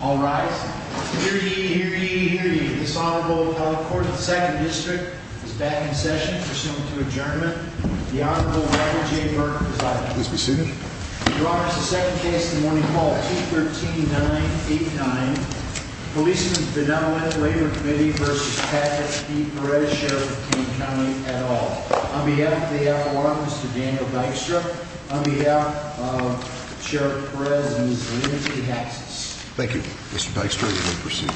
All right, here, here, here, This Honorable Court of the 2nd District is back in session, Pursuant to adjournment, the Honorable Robert J. Burke is out. Please be seated. Your Honor, it's the second case in the morning, Call 213-989, Policemen's Benevolent Labor Committee versus Pat S.P. Perez, Sheriff of Kane County, et al. On behalf of the FLR, Mr. Daniel Dykstra, On behalf of Sheriff Perez and his legal team, Thank you. Mr. Dykstra, you may proceed.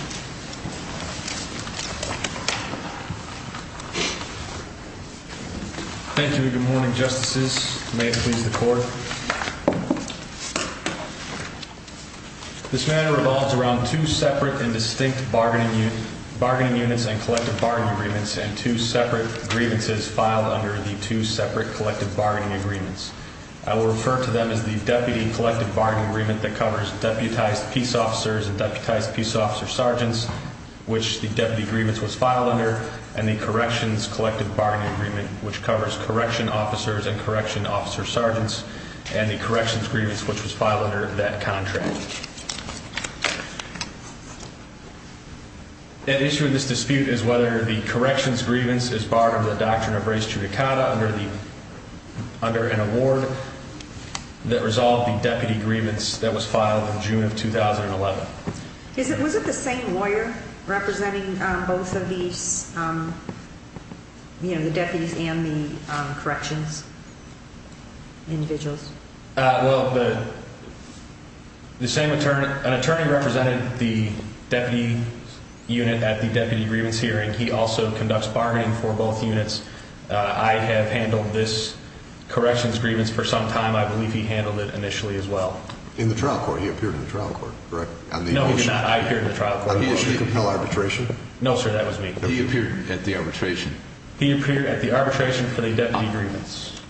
Thank you and good morning, Justices. May it please the Court. This matter revolves around two separate and distinct bargaining units and collective bargaining agreements and two separate grievances filed under the two separate collective bargaining agreements. I will refer to them as the Deputy Collective Bargaining Agreement that covers deputized peace officers and deputized peace officer sergeants, which the Deputy Agreements was filed under, and the Corrections Collective Bargaining Agreement, which covers correction officers and correction officer sergeants, and the Corrections Grievance, which was filed under that contract. At issue in this dispute is whether the Corrections Grievance is part of the Doctrine of Race Judicata under an award that resolved the Deputy Grievance that was filed in June of 2011. Was it the same lawyer representing both of these, you know, the deputies and the corrections individuals? Well, the same attorney. An attorney represented the deputy unit at the Deputy Grievance hearing. He also conducts bargaining for both units. I have handled this Corrections Grievance for some time. I believe he handled it initially as well. In the trial court? He appeared in the trial court, correct? No, he did not. I appeared in the trial court. Did he compel arbitration? No, sir, that was me. He appeared at the arbitration? He appeared at the arbitration for the Deputy Grievance.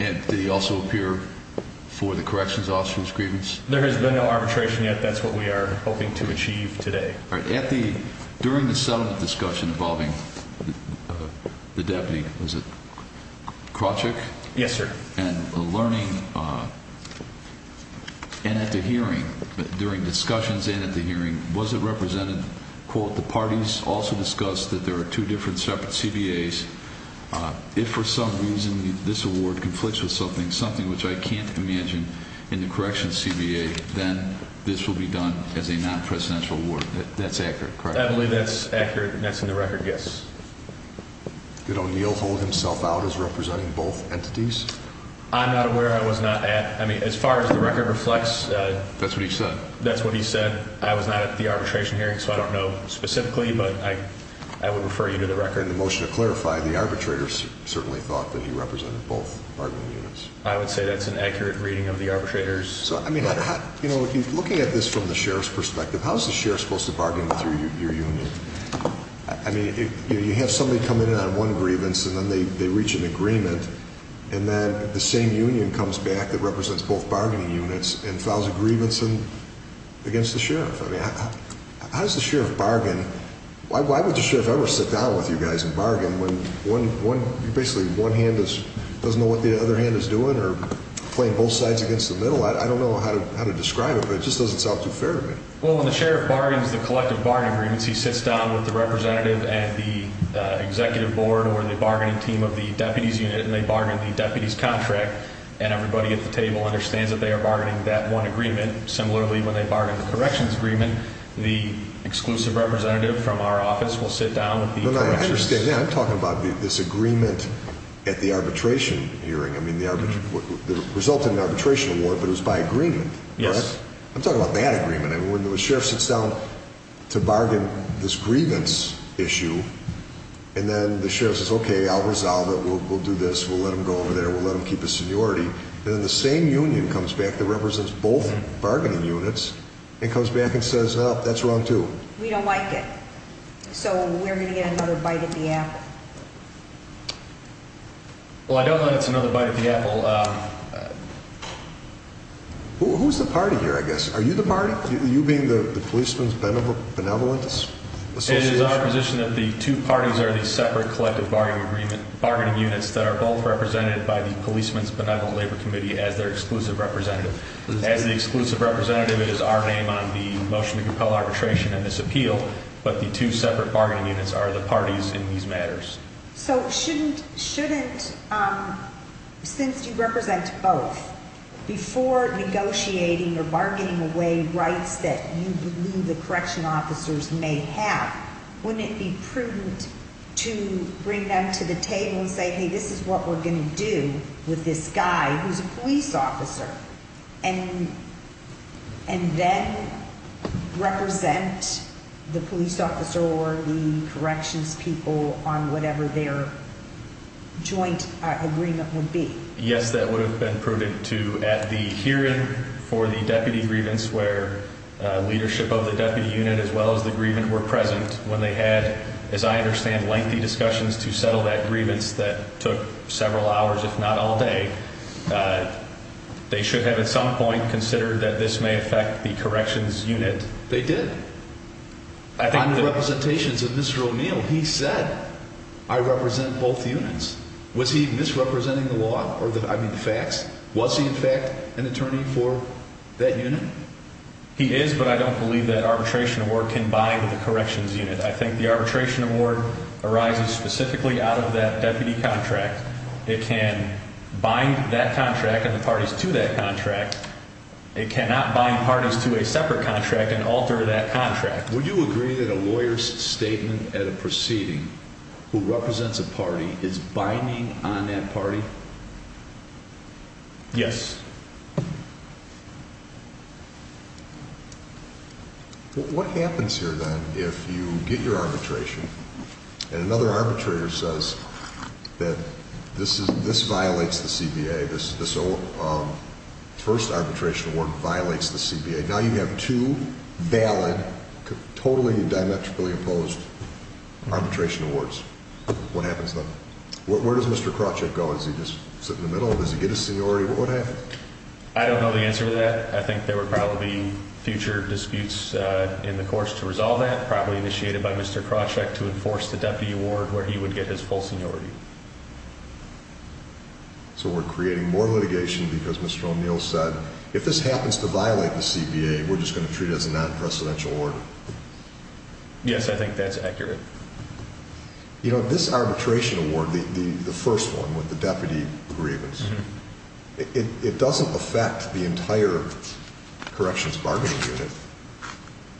And did he also appear for the Corrections Officer's Grievance? There has been no arbitration yet. That's what we are hoping to achieve today. During the settlement discussion involving the deputy, was it Krawchuk? Yes, sir. And the learning and at the hearing, during discussions and at the hearing, was it represented, quote, the parties also discussed that there are two different separate CBAs. If for some reason this award conflicts with something, something which I can't imagine in the corrections CBA, then this will be done as a non-presidential award. That's accurate, correct? I believe that's accurate and that's in the record, yes. Did O'Neill hold himself out as representing both entities? I'm not aware I was not at. I mean, as far as the record reflects, That's what he said. That's what he said. I was not at the arbitration hearing, so I don't know specifically, but I would refer you to the record. And the motion to clarify, the arbitrators certainly thought that he represented both bargaining units. I would say that's an accurate reading of the arbitrators. So, I mean, looking at this from the sheriff's perspective, how is the sheriff supposed to bargain with your union? I mean, you have somebody come in on one grievance and then they reach an agreement and then the same union comes back that represents both bargaining units and files a grievance against the sheriff. I mean, how does the sheriff bargain? Why would the sheriff ever sit down with you guys and bargain when basically one hand doesn't know what the other hand is doing or playing both sides against the middle? I don't know how to describe it, but it just doesn't sound too fair to me. Well, when the sheriff bargains the collective bargaining agreements, he sits down with the representative and the executive board or the bargaining team of the deputies unit and they bargain the deputies contract and everybody at the table understands that they are bargaining that one agreement. Similarly, when they bargain the corrections agreement, the exclusive representative from our office will sit down with the corrections. I understand. Yeah, I'm talking about this agreement at the arbitration hearing. I mean, it resulted in an arbitration award, but it was by agreement. Yes. I'm talking about that agreement. When the sheriff sits down to bargain this grievance issue and then the sheriff says, okay, I'll resolve it. We'll do this. We'll let them go over there. We'll let them keep the seniority. Then the same union comes back that represents both bargaining units and comes back and says, no, that's wrong, too. We don't like it, so we're going to get another bite of the apple. Well, I don't know if it's another bite of the apple. Who's the party here, I guess? Are you the party? You being the Policeman's Benevolence Association? It is our position that the two parties are the separate collective bargaining units that are both represented by the Policeman's Benevolent Labor Committee as their exclusive representative. As the exclusive representative, it is our name on the motion to compel arbitration and this appeal, but the two separate bargaining units are the parties in these matters. So shouldn't, since you represent both, before negotiating or bargaining away rights that you believe the correction officers may have, wouldn't it be prudent to bring them to the table and say, hey, this is what we're going to do with this guy who's a police officer and then represent the police officer or the corrections people on whatever their joint agreement would be? Yes, that would have been prudent, too. At the hearing for the deputy grievance where leadership of the deputy unit as well as the grievant were present, when they had, as I understand, lengthy discussions to settle that grievance that took several hours, if not all day, they should have at some point considered that this may affect the corrections unit. They did. On the representations of Mr. O'Neill, he said, I represent both units. Was he misrepresenting the law or the facts? Was he, in fact, an attorney for that unit? He is, but I don't believe that arbitration award can bind the corrections unit. I think the arbitration award arises specifically out of that deputy contract. It can bind that contract and the parties to that contract. It cannot bind parties to a separate contract and alter that contract. Would you agree that a lawyer's statement at a proceeding who represents a party is binding on that party? Yes. What happens here, then, if you get your arbitration and another arbitrator says that this violates the CBA, this first arbitration award violates the CBA. Now you have two valid, totally diametrically opposed arbitration awards. What happens then? Where does Mr. Krawcheck go? Does he just sit in the middle? Does he get a seniority? What happens? I don't know the answer to that. I think there would probably be future disputes in the courts to resolve that, probably initiated by Mr. Krawcheck to enforce the deputy award where he would get his full seniority. So we're creating more litigation because Mr. O'Neill said, if this happens to violate the CBA, we're just going to treat it as a non-presidential order. Yes, I think that's accurate. You know, this arbitration award, the first one with the deputy grievance, it doesn't affect the entire corrections bargaining unit.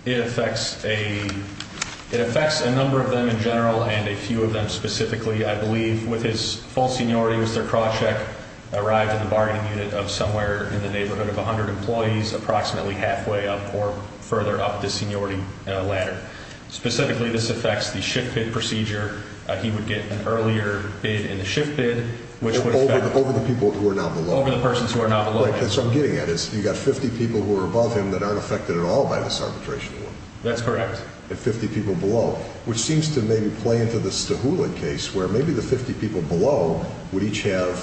It affects a number of them in general and a few of them specifically. I believe with his full seniority, Mr. Krawcheck arrived in the bargaining unit of somewhere in the neighborhood of 100 employees, approximately halfway up or further up the seniority ladder. Specifically, this affects the shift bid procedure. He would get an earlier bid in the shift bid, which would affect— Over the people who are now below. Over the persons who are now below. That's what I'm getting at. You've got 50 people who are above him that aren't affected at all by this arbitration award. That's correct. And 50 people below, which seems to maybe play into the Stahulik case, where maybe the 50 people below would each have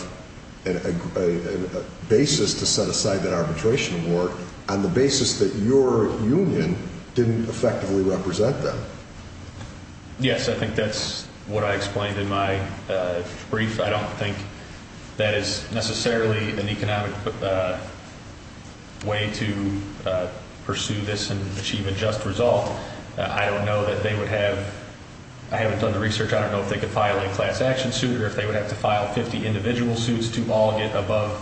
a basis to set aside that arbitration award on the basis that your union didn't effectively represent them. Yes, I think that's what I explained in my brief. I don't think that is necessarily an economic way to pursue this and achieve a just result. I don't know that they would have—I haven't done the research. I don't know if they could file a class action suit or if they would have to file 50 individual suits to all get above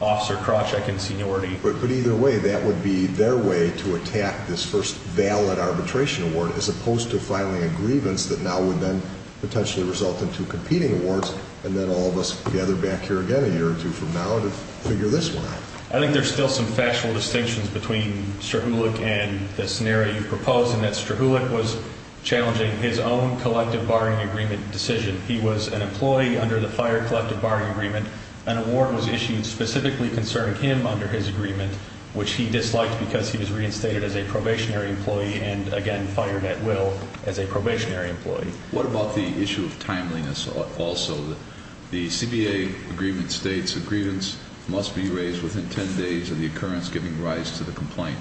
Officer Krawcheck in seniority. But either way, that would be their way to attack this first valid arbitration award, as opposed to filing a grievance that now would then potentially result in two competing awards and then all of us gather back here again a year or two from now to figure this one out. I think there's still some factual distinctions between Stahulik and the scenario you've proposed in that Stahulik was challenging his own collective barring agreement decision. He was an employee under the FIRE collective barring agreement. An award was issued specifically concerning him under his agreement, which he disliked because he was reinstated as a probationary employee and again fired at will as a probationary employee. What about the issue of timeliness also? The CBA agreement states a grievance must be raised within 10 days of the occurrence giving rise to the complaint.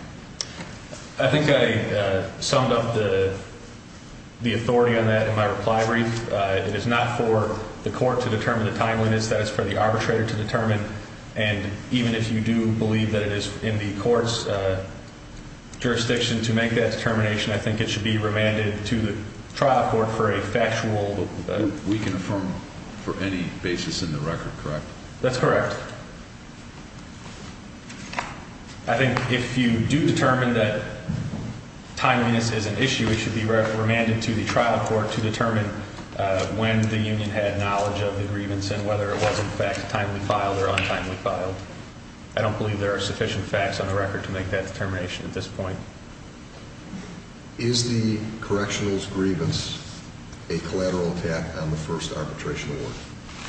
I think I summed up the authority on that in my reply brief. It is not for the court to determine the timeliness. That is for the arbitrator to determine. And even if you do believe that it is in the court's jurisdiction to make that determination, I think it should be remanded to the trial court for a factual. We can affirm for any basis in the record, correct? That's correct. I think if you do determine that timeliness is an issue, we should be remanded to the trial court to determine when the union had knowledge of the grievance and whether it was, in fact, timely filed or untimely filed. I don't believe there are sufficient facts on the record to make that determination at this point. Is the correctional's grievance a collateral attack on the first arbitration award?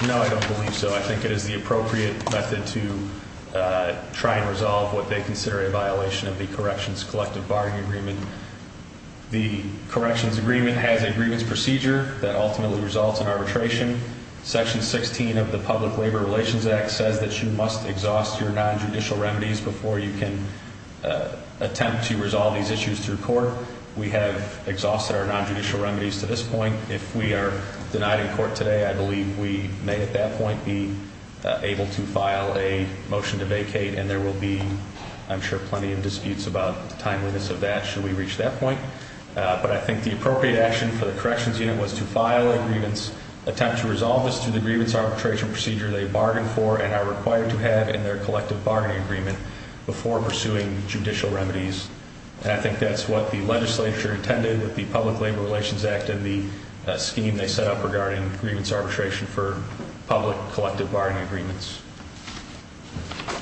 No, I don't believe so. I think it is the appropriate method to try and resolve what they consider a violation of the corrections collective barring agreement. The corrections agreement has a grievance procedure that ultimately results in arbitration. Section 16 of the Public Labor Relations Act says that you must exhaust your nonjudicial remedies before you can attempt to resolve these issues through court. We have exhausted our nonjudicial remedies to this point. If we are denied in court today, I believe we may at that point be able to file a motion to vacate, and there will be, I'm sure, plenty of disputes about the timeliness of that. Should we reach that point? But I think the appropriate action for the corrections unit was to file a grievance, attempt to resolve this through the grievance arbitration procedure they bargained for and are required to have in their collective bargaining agreement before pursuing judicial remedies. And I think that's what the legislature intended with the Public Labor Relations Act and the scheme they set up regarding grievance arbitration for public collective bargaining agreements.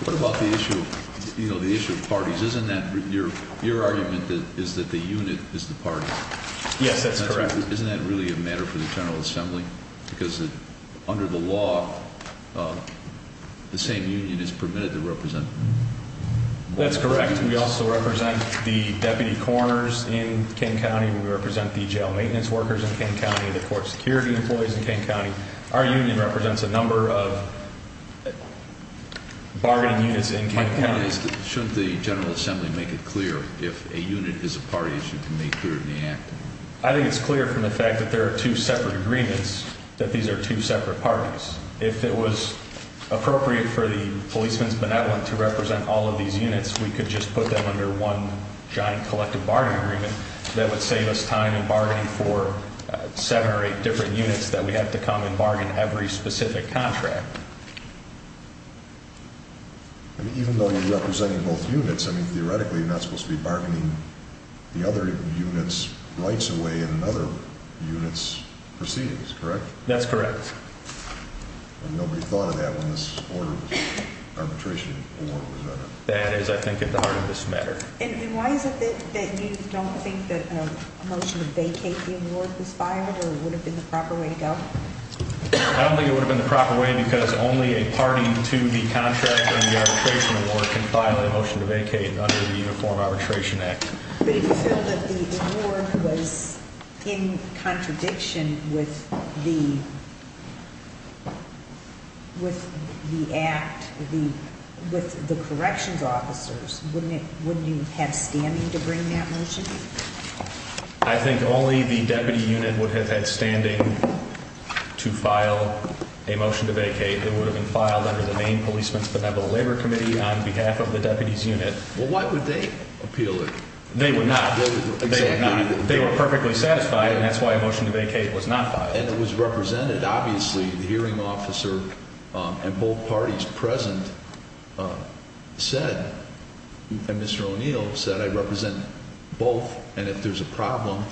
What about the issue of parties? Isn't that your argument that the unit is the party? Yes, that's correct. Isn't that really a matter for the General Assembly? Because under the law, the same union is permitted to represent? That's correct. We also represent the deputy coroners in King County. We represent the jail maintenance workers in King County, the court security employees in King County. Our union represents a number of bargaining units in King County. Shouldn't the General Assembly make it clear if a unit is a party it should be made clear in the act? I think it's clear from the fact that there are two separate agreements that these are two separate parties. If it was appropriate for the policemen's benevolent to represent all of these units, we could just put them under one giant collective bargaining agreement. That would save us time in bargaining for seven or eight different units that we have to come and bargain every specific contract. Even though you're representing both units, theoretically you're not supposed to be bargaining the other unit's rights away in another unit's proceedings, correct? That's correct. Nobody thought of that when this arbitration order was in it? That is, I think, at the heart of this matter. And why is it that you don't think that a motion to vacate the award was filed or would have been the proper way to go? I don't think it would have been the proper way because only a party to the contract and the arbitration award can file a motion to vacate under the Uniform Arbitration Act. But if you feel that the award was in contradiction with the corrections officers, wouldn't you have standing to bring that motion? I think only the deputy unit would have had standing to file a motion to vacate. It would have been filed under the name Policeman's Benevolent Labor Committee on behalf of the deputy's unit. Well, why would they appeal it? They would not. They were perfectly satisfied, and that's why a motion to vacate was not filed. And it was represented. Obviously, the hearing officer and both parties present said, and Mr. O'Neill said, I represent both, and if there's a problem,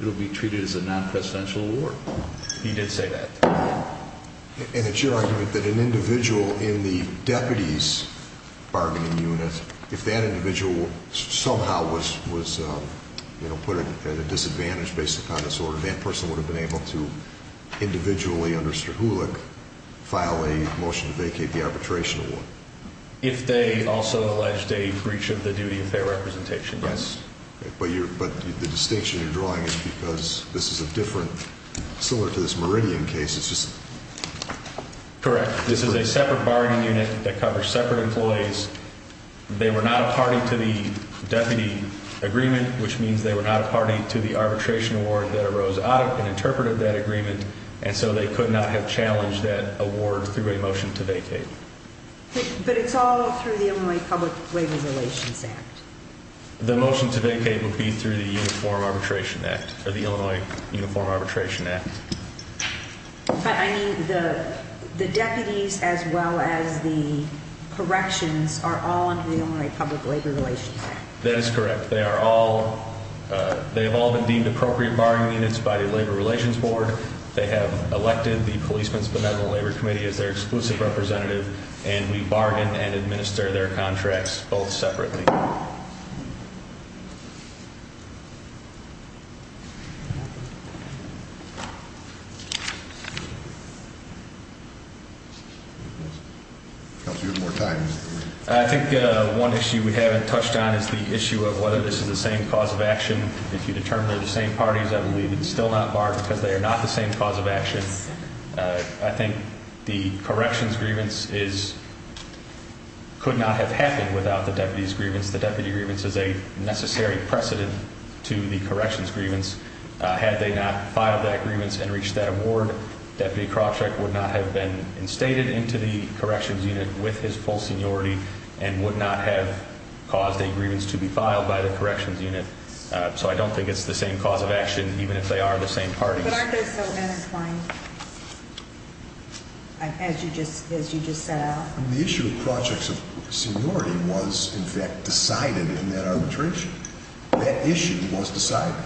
it'll be treated as a non-presidential award. He did say that. And it's your argument that an individual in the deputy's bargaining unit, if that individual somehow was put at a disadvantage based upon disorder, that person would have been able to individually under Strahulic file a motion to vacate the arbitration award? If they also alleged a breach of the duty of fair representation, yes. But the distinction you're drawing is because this is a different, similar to this Meridian case, it's just... Correct. This is a separate bargaining unit that covers separate employees. They were not a party to the deputy agreement, which means they were not a party to the arbitration award that arose out of and interpreted that agreement, and so they could not have challenged that award through a motion to vacate. But it's all through the Illinois Public Waiver Relations Act. The motion to vacate would be through the Uniform Arbitration Act, or the Illinois Uniform Arbitration Act. But, I mean, the deputies as well as the corrections are all under the Illinois Public Labor Relations Act. That is correct. They are all, they have all been deemed appropriate bargaining units by the Labor Relations Board. They have elected the Policeman's Benevolent Labor Committee as their exclusive representative, and we bargain and administer their contracts both separately. I think one issue we haven't touched on is the issue of whether this is the same cause of action. If you determine they're the same parties, I believe it's still not barred because they are not the same cause of action. I think the corrections grievance could not have happened without the deputies' grievance. The deputy grievance is a necessary precedent to the corrections grievance. Had they not filed that grievance and reached that award, Deputy Krawcheck would not have been instated into the corrections unit with his full seniority and would not have caused a grievance to be filed by the corrections unit. So I don't think it's the same cause of action, even if they are the same parties. But aren't they so intertwined, as you just set out? The issue of Krawcheck's seniority was, in fact, decided in that arbitration. That issue was decided.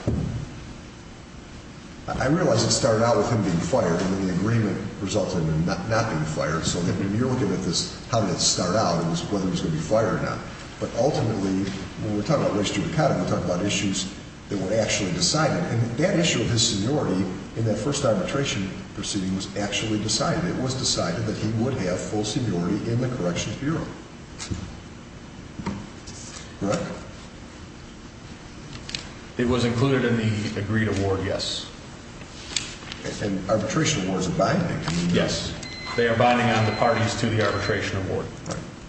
I realize it started out with him being fired, and then the agreement resulted in him not being fired. So when you're looking at this, how did it start out, it was whether he was going to be fired or not. But ultimately, when we're talking about race to economy, we're talking about issues that were actually decided. And that issue of his seniority in that first arbitration proceeding was actually decided. It was decided that he would have full seniority in the corrections bureau. It was included in the agreed award, yes. And arbitration awards are binding. Yes, they are binding on the parties to the arbitration award.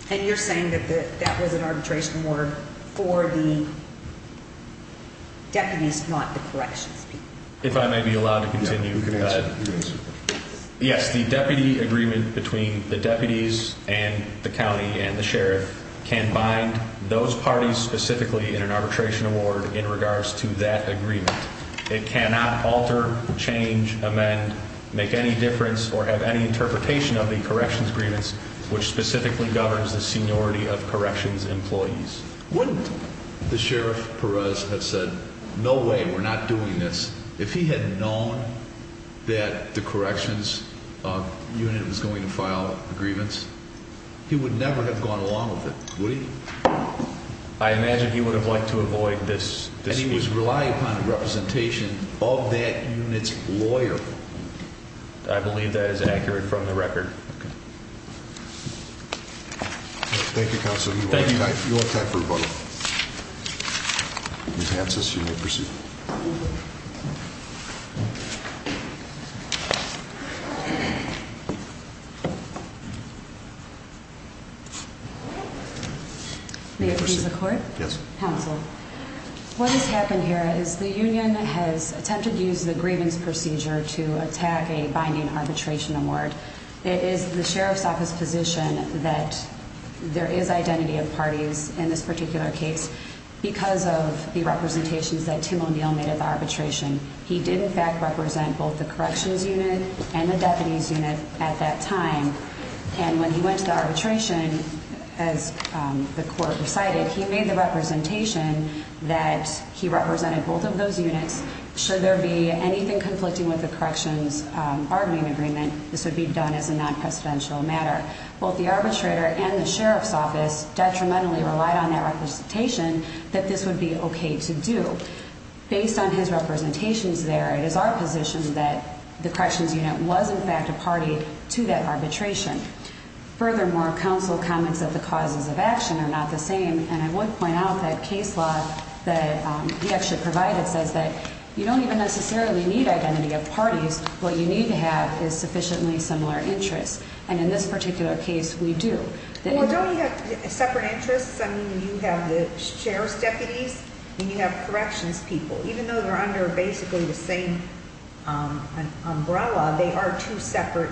And you're saying that that was an arbitration award for the deputies, not the corrections people. If I may be allowed to continue, yes, the deputy agreement between the deputies and the county and the sheriff can bind those parties specifically in an arbitration award in regards to that agreement. It cannot alter, change, amend, make any difference, or have any interpretation of the corrections agreements which specifically governs the seniority of corrections employees. Wouldn't the sheriff Perez have said, no way, we're not doing this. If he had known that the corrections unit was going to file agreements, he would never have gone along with it, would he? I imagine he would have liked to avoid this dispute. And he was relying upon a representation of that unit's lawyer. I believe that is accurate from the record. Thank you, counsel. You have time for rebuttal. Ms. Hansen, you may proceed. May I please have a word? Yes. Thank you, counsel. What has happened here is the union has attempted to use the grievance procedure to attack a binding arbitration award. It is the sheriff's office position that there is identity of parties in this particular case because of the representations that Tim O'Neill made at the arbitration. He did, in fact, represent both the corrections unit and the deputies unit at that time. And when he went to the arbitration, as the court recited, he made the representation that he represented both of those units. Should there be anything conflicting with the corrections bargaining agreement, this would be done as a non-presidential matter. Both the arbitrator and the sheriff's office detrimentally relied on that representation that this would be okay to do. Based on his representations there, it is our position that the corrections unit was, in fact, a party to that arbitration. Furthermore, counsel comments that the causes of action are not the same. And I would point out that case law that he actually provided says that you don't even necessarily need identity of parties. What you need to have is sufficiently similar interests. And in this particular case, we do. Well, don't you have separate interests? I mean, you have the sheriff's deputies and you have corrections people. Even though they're under basically the same umbrella, they are two separate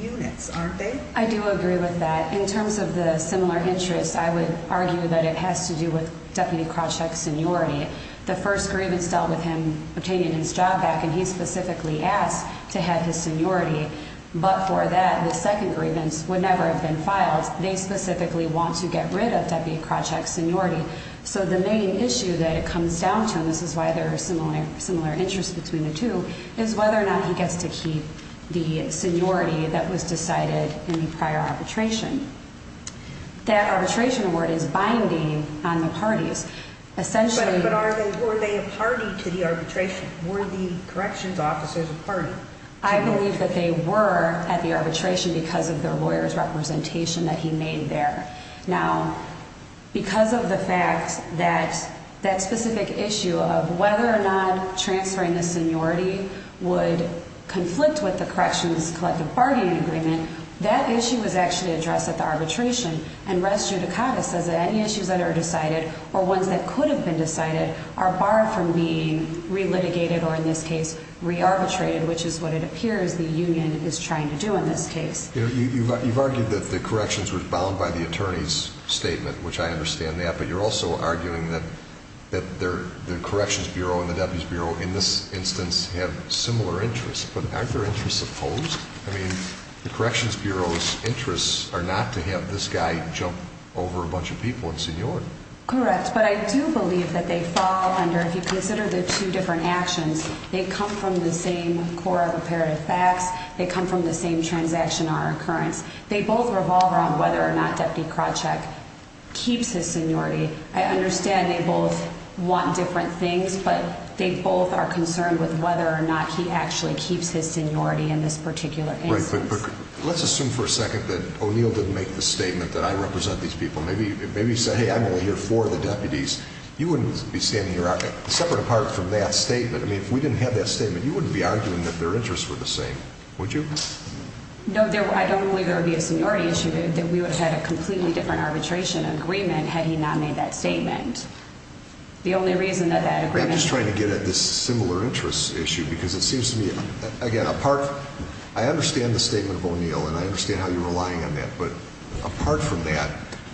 units, aren't they? I do agree with that. In terms of the similar interests, I would argue that it has to do with Deputy Krawcheck's seniority. The first grievance dealt with him obtaining his job back, and he specifically asked to have his seniority. But for that, the second grievance would never have been filed. They specifically want to get rid of Deputy Krawcheck's seniority. So the main issue that it comes down to, and this is why there are similar interests between the two, is whether or not he gets to keep the seniority that was decided in the prior arbitration. That arbitration award is binding on the parties. But were they a party to the arbitration? Were the corrections officers a party? I believe that they were at the arbitration because of their lawyer's representation that he made there. Now, because of the fact that that specific issue of whether or not transferring the seniority would conflict with the corrections collective bargaining agreement, that issue was actually addressed at the arbitration. And res judicata says that any issues that are decided or ones that could have been decided are barred from being re-litigated or, in this case, re-arbitrated, which is what it appears the union is trying to do in this case. You've argued that the corrections were bound by the attorney's statement, which I understand that, but you're also arguing that the Corrections Bureau and the Deputy's Bureau, in this instance, have similar interests. But aren't their interests opposed? I mean, the Corrections Bureau's interests are not to have this guy jump over a bunch of people and seniority. Correct, but I do believe that they fall under, if you consider their two different actions, they come from the same core of imperative facts. They come from the same transaction or occurrence. They both revolve around whether or not Deputy Krawcheck keeps his seniority. I understand they both want different things, but they both are concerned with whether or not he actually keeps his seniority in this particular instance. Let's assume for a second that O'Neill didn't make the statement that I represent these people. Maybe he said, hey, I'm only here for the deputies. You wouldn't be standing here separate apart from that statement. I mean, if we didn't have that statement, you wouldn't be arguing that their interests were the same, would you? No, I don't believe there would be a seniority issue. We would have had a completely different arbitration agreement had he not made that statement. The only reason that that agreement— I'm just trying to get at this similar interest issue because it seems to me, again, apart— I understand the statement of O'Neill, and I understand how you're relying on that, but apart from that,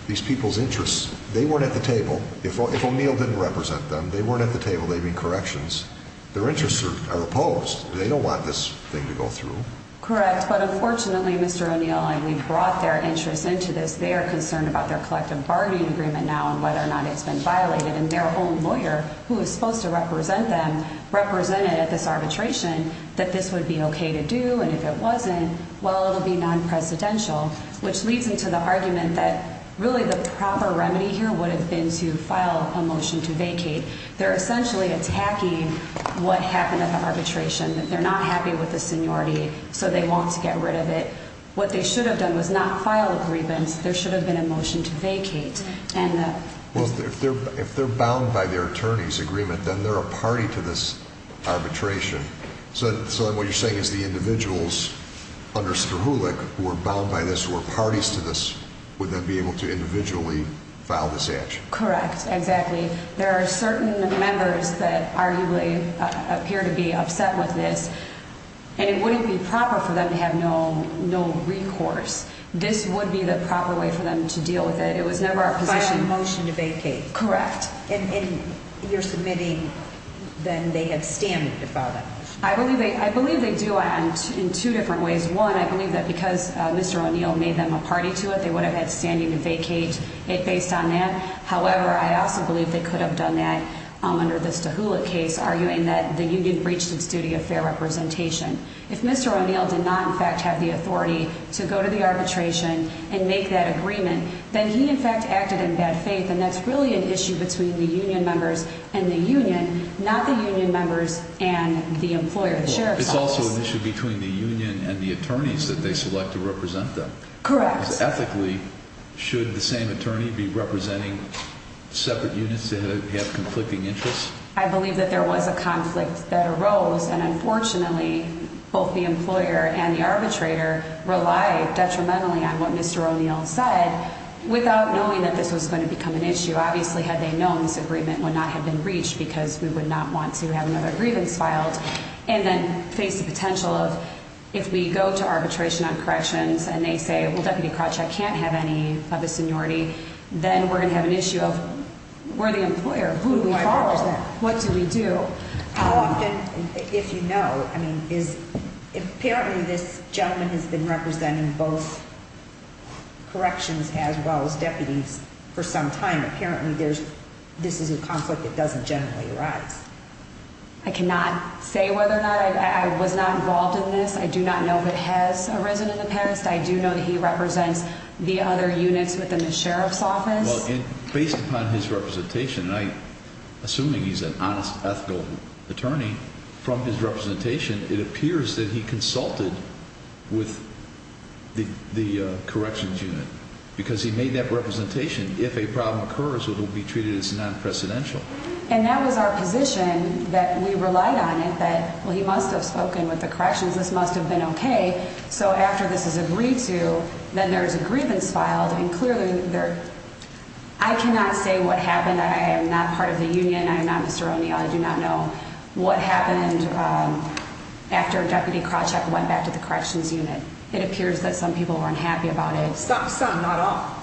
these people's interests, they weren't at the table. If O'Neill didn't represent them, they weren't at the table. They made corrections. Their interests are opposed. They don't want this thing to go through. Correct, but unfortunately, Mr. O'Neill, and we brought their interests into this, they are concerned about their collective bargaining agreement now and whether or not it's been violated, and their own lawyer, who is supposed to represent them, represented at this arbitration that this would be okay to do, and if it wasn't, well, it would be non-presidential, which leads into the argument that really the proper remedy here would have been to file a motion to vacate. They're essentially attacking what happened at the arbitration, that they're not happy with the seniority, so they want to get rid of it. What they should have done was not file a grievance. There should have been a motion to vacate. Well, if they're bound by their attorney's agreement, then they're a party to this arbitration. So then what you're saying is the individuals under Spruhlick who are bound by this, who are parties to this, would then be able to individually file this action? Correct, exactly. There are certain members that arguably appear to be upset with this, and it wouldn't be proper for them to have no recourse. This would be the proper way for them to deal with it. It was never a position— File a motion to vacate. Correct. And you're submitting then they have standing to file that motion? I believe they do in two different ways. One, I believe that because Mr. O'Neill made them a party to it, they would have had standing to vacate it based on that. However, I also believe they could have done that under the Spruhlick case, arguing that the union breached its duty of fair representation. If Mr. O'Neill did not, in fact, have the authority to go to the arbitration and make that agreement, then he, in fact, acted in bad faith, and that's really an issue between the union members and the union, not the union members and the employer, the sheriff's office. It's also an issue between the union and the attorneys that they select to represent them. Correct. Ethically, should the same attorney be representing separate units that have conflicting interests? I believe that there was a conflict that arose, and unfortunately, both the employer and the arbitrator relied detrimentally on what Mr. O'Neill said without knowing that this was going to become an issue. Obviously, had they known, this agreement would not have been breached because we would not want to have another grievance filed and then face the potential of if we go to arbitration on corrections and they say, well, Deputy Krawcheck can't have any of his seniority, then we're going to have an issue of we're the employer. Who do we follow? What do we do? How often, if you know, apparently this gentleman has been representing both corrections as well as deputies for some time. Apparently, this is a conflict that doesn't generally arise. I cannot say whether or not I was not involved in this. I do not know if it has arisen in the past. I do know that he represents the other units within the sheriff's office. Well, based upon his representation, and I'm assuming he's an honest, ethical attorney, from his representation, it appears that he consulted with the corrections unit because he made that representation. If a problem occurs, it will be treated as non-precedential. And that was our position that we relied on it, that, well, he must have spoken with the corrections. This must have been okay. So after this is agreed to, then there is a grievance filed. And clearly, I cannot say what happened. I am not part of the union. I am not Mr. O'Neill. I do not know what happened after Deputy Krawcheck went back to the corrections unit. It appears that some people were unhappy about it. Some, not all.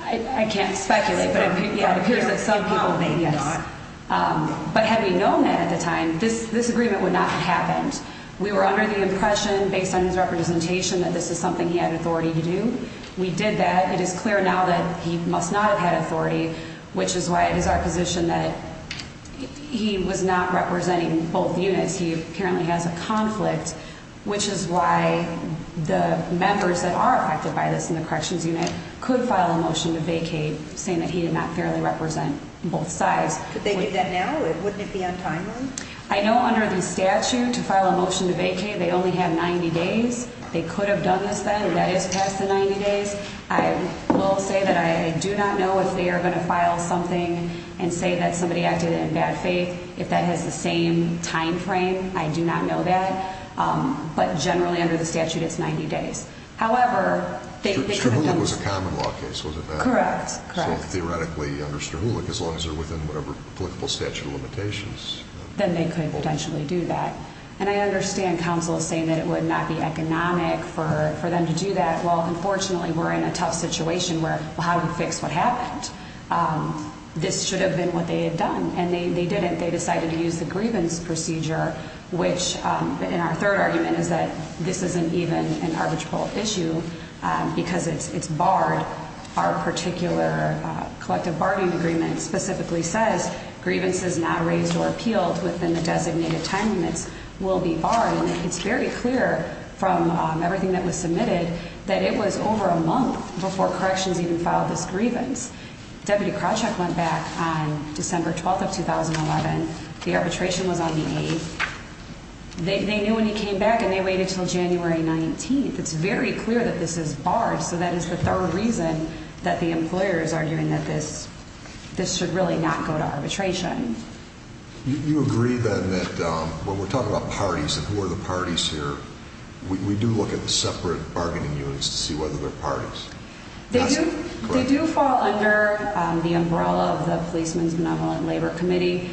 I can't speculate, but it appears that some people think, yes. But had we known that at the time, this agreement would not have happened. We were under the impression, based on his representation, that this is something he had authority to do. We did that. It is clear now that he must not have had authority, which is why it is our position that he was not representing both units. He apparently has a conflict, which is why the members that are affected by this in the corrections unit could file a motion to vacate, saying that he did not fairly represent both sides. Could they do that now? Wouldn't it be untimely? I know under the statute, to file a motion to vacate, they only have 90 days. They could have done this then. That is past the 90 days. I will say that I do not know if they are going to file something and say that somebody acted in bad faith. If that has the same time frame, I do not know that. But generally, under the statute, it's 90 days. However, they could have done this. Strahulic was a common law case, was it not? Correct. Theoretically, under Strahulic, as long as they are within whatever applicable statute of limitations. Then they could potentially do that. And I understand counsel saying that it would not be economic for them to do that. Well, unfortunately, we're in a tough situation where how do we fix what happened? This should have been what they had done, and they didn't. They decided to use the grievance procedure, which in our third argument is that this isn't even an arbitrable issue because it's barred. Our particular collective bargaining agreement specifically says grievances not raised or appealed within the designated time limits will be barred. And it's very clear from everything that was submitted that it was over a month before corrections even filed this grievance. Deputy Krawcheck went back on December 12th of 2011. The arbitration was on the 8th. They knew when he came back, and they waited until January 19th. It's very clear that this is barred, so that is the third reason that the employer is arguing that this should really not go to arbitration. You agree, then, that when we're talking about parties and who are the parties here, we do look at the separate bargaining units to see whether they're parties. They do fall under the umbrella of the Policeman's Benevolent Labor Committee.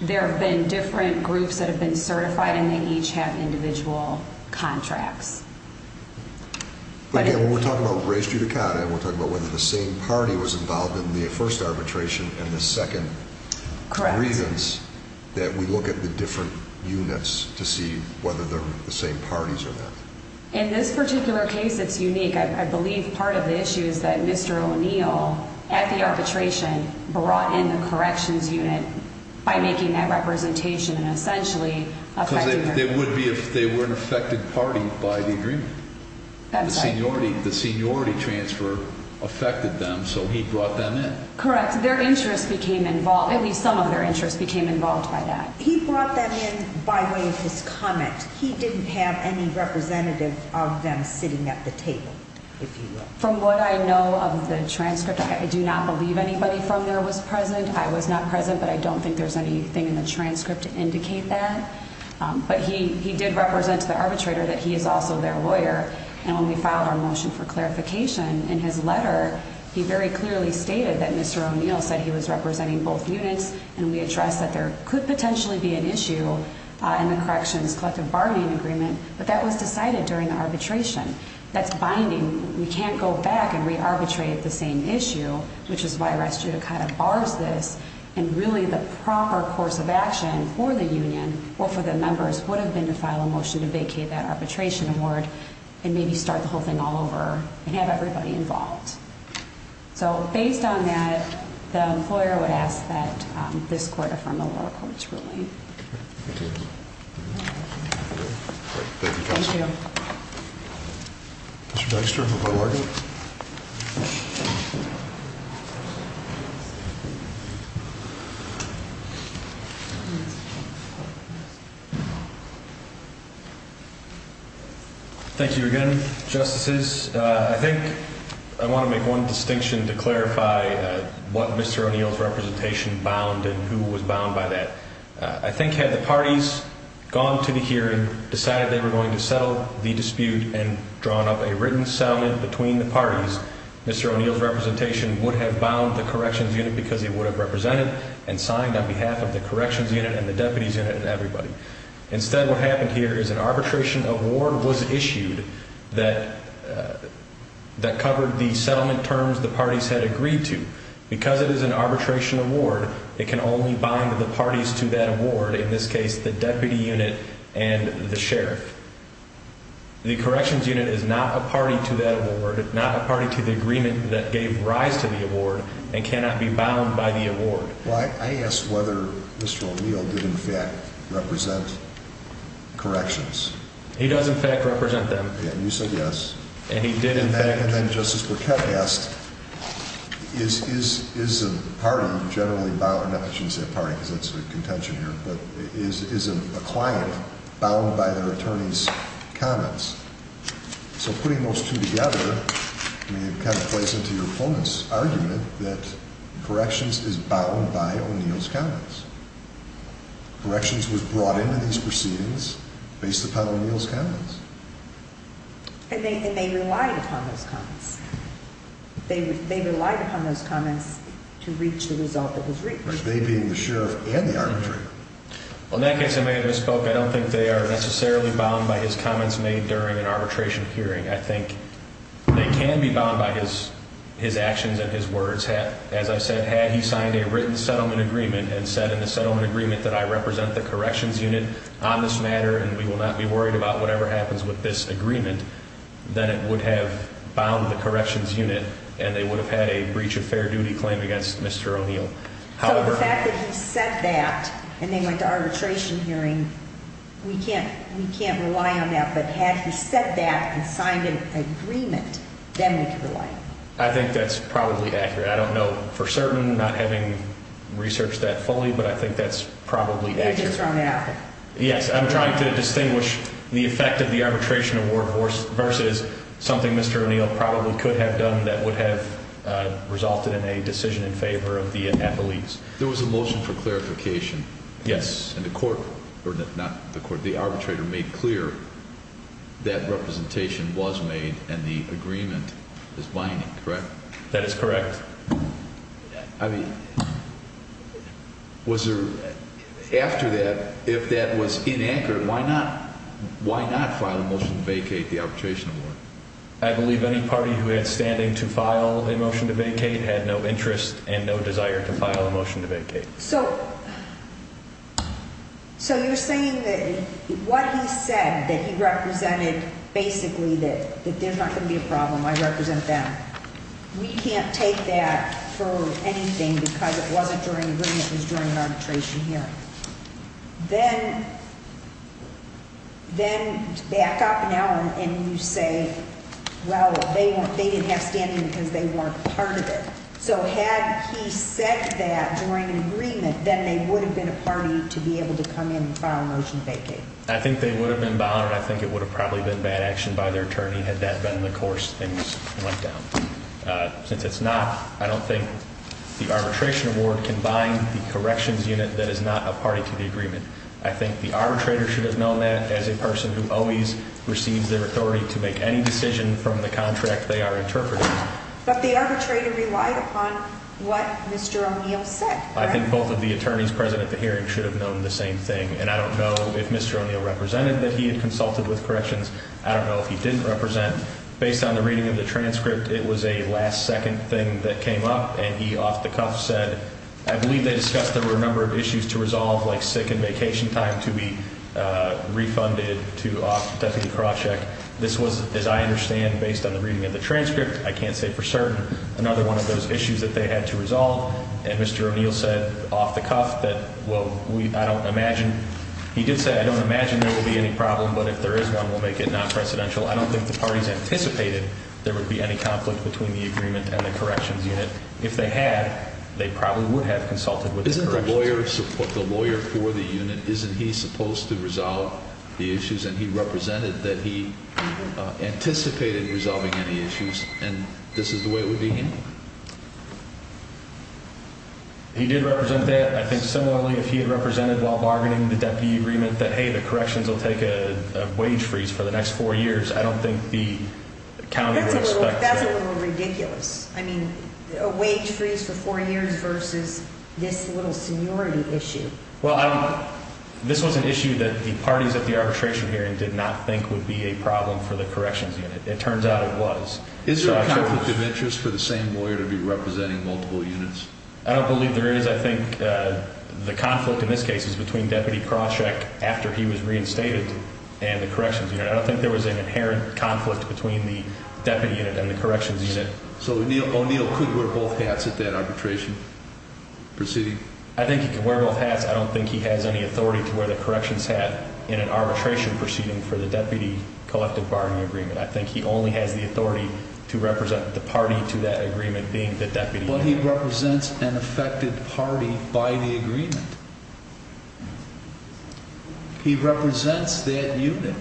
There have been different groups that have been certified, and they each have individual contracts. But again, when we're talking about Gray's Judicata and we're talking about whether the same party was involved in the first arbitration and the second grievance, that we look at the different units to see whether they're the same parties or not. In this particular case, it's unique. I believe part of the issue is that Mr. O'Neill, at the arbitration, brought in the corrections unit by making that representation and essentially affecting their— Because they would be if they were an affected party by the agreement. That's right. The seniority transfer affected them, so he brought them in. Correct. Their interests became involved. At least some of their interests became involved by that. He brought them in by way of his comment. He didn't have any representative of them sitting at the table, if you will. From what I know of the transcript, I do not believe anybody from there was present. I was not present, but I don't think there's anything in the transcript to indicate that. But he did represent to the arbitrator that he is also their lawyer. And when we filed our motion for clarification in his letter, he very clearly stated that Mr. O'Neill said he was representing both units. And we addressed that there could potentially be an issue in the corrections collective bargaining agreement. But that was decided during the arbitration. That's binding. We can't go back and re-arbitrate the same issue, which is why Restudio kind of bars this. And really, the proper course of action for the union or for the members would have been to file a motion to vacate that arbitration award. And maybe start the whole thing all over and have everybody involved. So based on that, the employer would ask that this court affirm the lower court's ruling. Thank you. Thank you. Mr. Dexter, report of argument. Thank you again, Justices. I think I want to make one distinction to clarify what Mr. O'Neill's representation bound and who was bound by that. I think had the parties gone to the hearing, decided they were going to settle the dispute, and drawn up a written settlement between the parties, Mr. O'Neill's representation would have bound the corrections unit because he would have represented and signed on behalf of the corrections unit and the deputies unit and everybody. Instead, what happened here is an arbitration award was issued that covered the settlement terms the parties had agreed to. Because it is an arbitration award, it can only bind the parties to that award, in this case, the deputy unit and the sheriff. The corrections unit is not a party to that award, not a party to the agreement that gave rise to the award, and cannot be bound by the award. I asked whether Mr. O'Neill did, in fact, represent corrections. He does, in fact, represent them. And you said yes. And he did, in fact. And then Justice Burkett asked, is a party generally bound, not that you can say a party because that's a contention here, but is a client bound by their attorney's comments? So putting those two together, I mean, it kind of plays into your opponent's argument that corrections is bound by O'Neill's comments. Corrections was brought into these proceedings based upon O'Neill's comments. And they relied upon those comments. They relied upon those comments to reach the result that was reached. They being the sheriff and the arbitrator. Well, in that case, I may have misspoke. I don't think they are necessarily bound by his comments made during an arbitration hearing. I think they can be bound by his actions and his words. As I said, had he signed a written settlement agreement and said in the settlement agreement that I represent the corrections unit on this matter and we will not be worried about whatever happens with this agreement, then it would have bound the corrections unit and they would have had a breach of fair duty claim against Mr. O'Neill. So the fact that he said that and they went to arbitration hearing, we can't rely on that. But had he said that and signed an agreement, then we could rely on it. I think that's probably accurate. I don't know for certain, not having researched that fully, but I think that's probably accurate. You're just running out there. Yes, I'm trying to distinguish the effect of the arbitration award versus something Mr. O'Neill probably could have done that would have resulted in a decision in favor of the athletes. There was a motion for clarification. Yes. And the arbitrator made clear that representation was made and the agreement is binding, correct? That is correct. I mean, after that, if that was in anchor, why not file a motion to vacate the arbitration award? I believe any party who had standing to file a motion to vacate had no interest and no desire to file a motion to vacate. So you're saying that what he said, that he represented basically that there's not going to be a problem, I represent them. We can't take that for anything because it wasn't during an agreement, it was during an arbitration hearing. Then back up an hour and you say, well, they didn't have standing because they weren't part of it. So had he said that during an agreement, then they would have been a party to be able to come in and file a motion to vacate. I think they would have been bothered. I think it would have probably been bad action by their attorney had that been in the course things went down. Since it's not, I don't think the arbitration award can bind the corrections unit that is not a party to the agreement. I think the arbitrator should have known that as a person who always receives their authority to make any decision from the contract they are interpreting. But the arbitrator relied upon what Mr. O'Neill said. I think both of the attorneys present at the hearing should have known the same thing. And I don't know if Mr. O'Neill represented that he had consulted with corrections. I don't know if he didn't represent. Based on the reading of the transcript, it was a last second thing that came up and he off the cuff said, I believe they discussed there were a number of issues to resolve like sick and vacation time to be refunded to Deputy Krawcheck. This was, as I understand, based on the reading of the transcript. I can't say for certain another one of those issues that they had to resolve. And Mr. O'Neill said off the cuff that, well, I don't imagine. He did say I don't imagine there will be any problem, but if there is one, we'll make it non-presidential. I don't think the parties anticipated there would be any conflict between the agreement and the corrections unit. If they had, they probably would have consulted with the corrections unit. Isn't the lawyer for the unit, isn't he supposed to resolve the issues? And he represented that he anticipated resolving any issues, and this is the way it would be handled. He did represent that. I think similarly, if he had represented while bargaining the deputy agreement that, hey, the corrections will take a wage freeze for the next four years, I don't think the county would expect that. That's a little ridiculous. I mean, a wage freeze for four years versus this little seniority issue. Well, this was an issue that the parties at the arbitration hearing did not think would be a problem for the corrections unit. It turns out it was. Is there a conflict of interest for the same lawyer to be representing multiple units? I don't believe there is. I think the conflict in this case is between Deputy Krawcheck after he was reinstated and the corrections unit. I don't think there was an inherent conflict between the deputy unit and the corrections unit. So O'Neill could wear both hats at that arbitration proceeding? I think he could wear both hats. I don't think he has any authority to wear the corrections hat in an arbitration proceeding for the deputy collective bargaining agreement. I think he only has the authority to represent the party to that agreement being the deputy. But he represents an affected party by the agreement. He represents that unit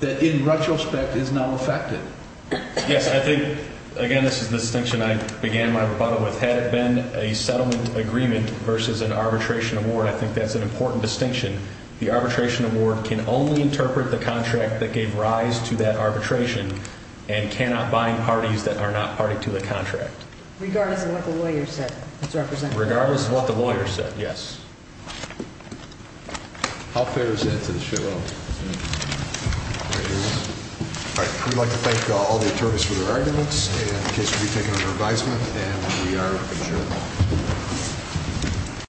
that, in retrospect, is now affected. Yes, I think, again, this is the distinction I began my rebuttal with. Had it been a settlement agreement versus an arbitration award, I think that's an important distinction. The arbitration award can only interpret the contract that gave rise to that arbitration and cannot bind parties that are not party to the contract. Regardless of what the lawyer said? Regardless of what the lawyer said, yes. How fair is that to the show? All right. We'd like to thank all the attorneys for their arguments. The case will be taken under advisement, and we are adjourned.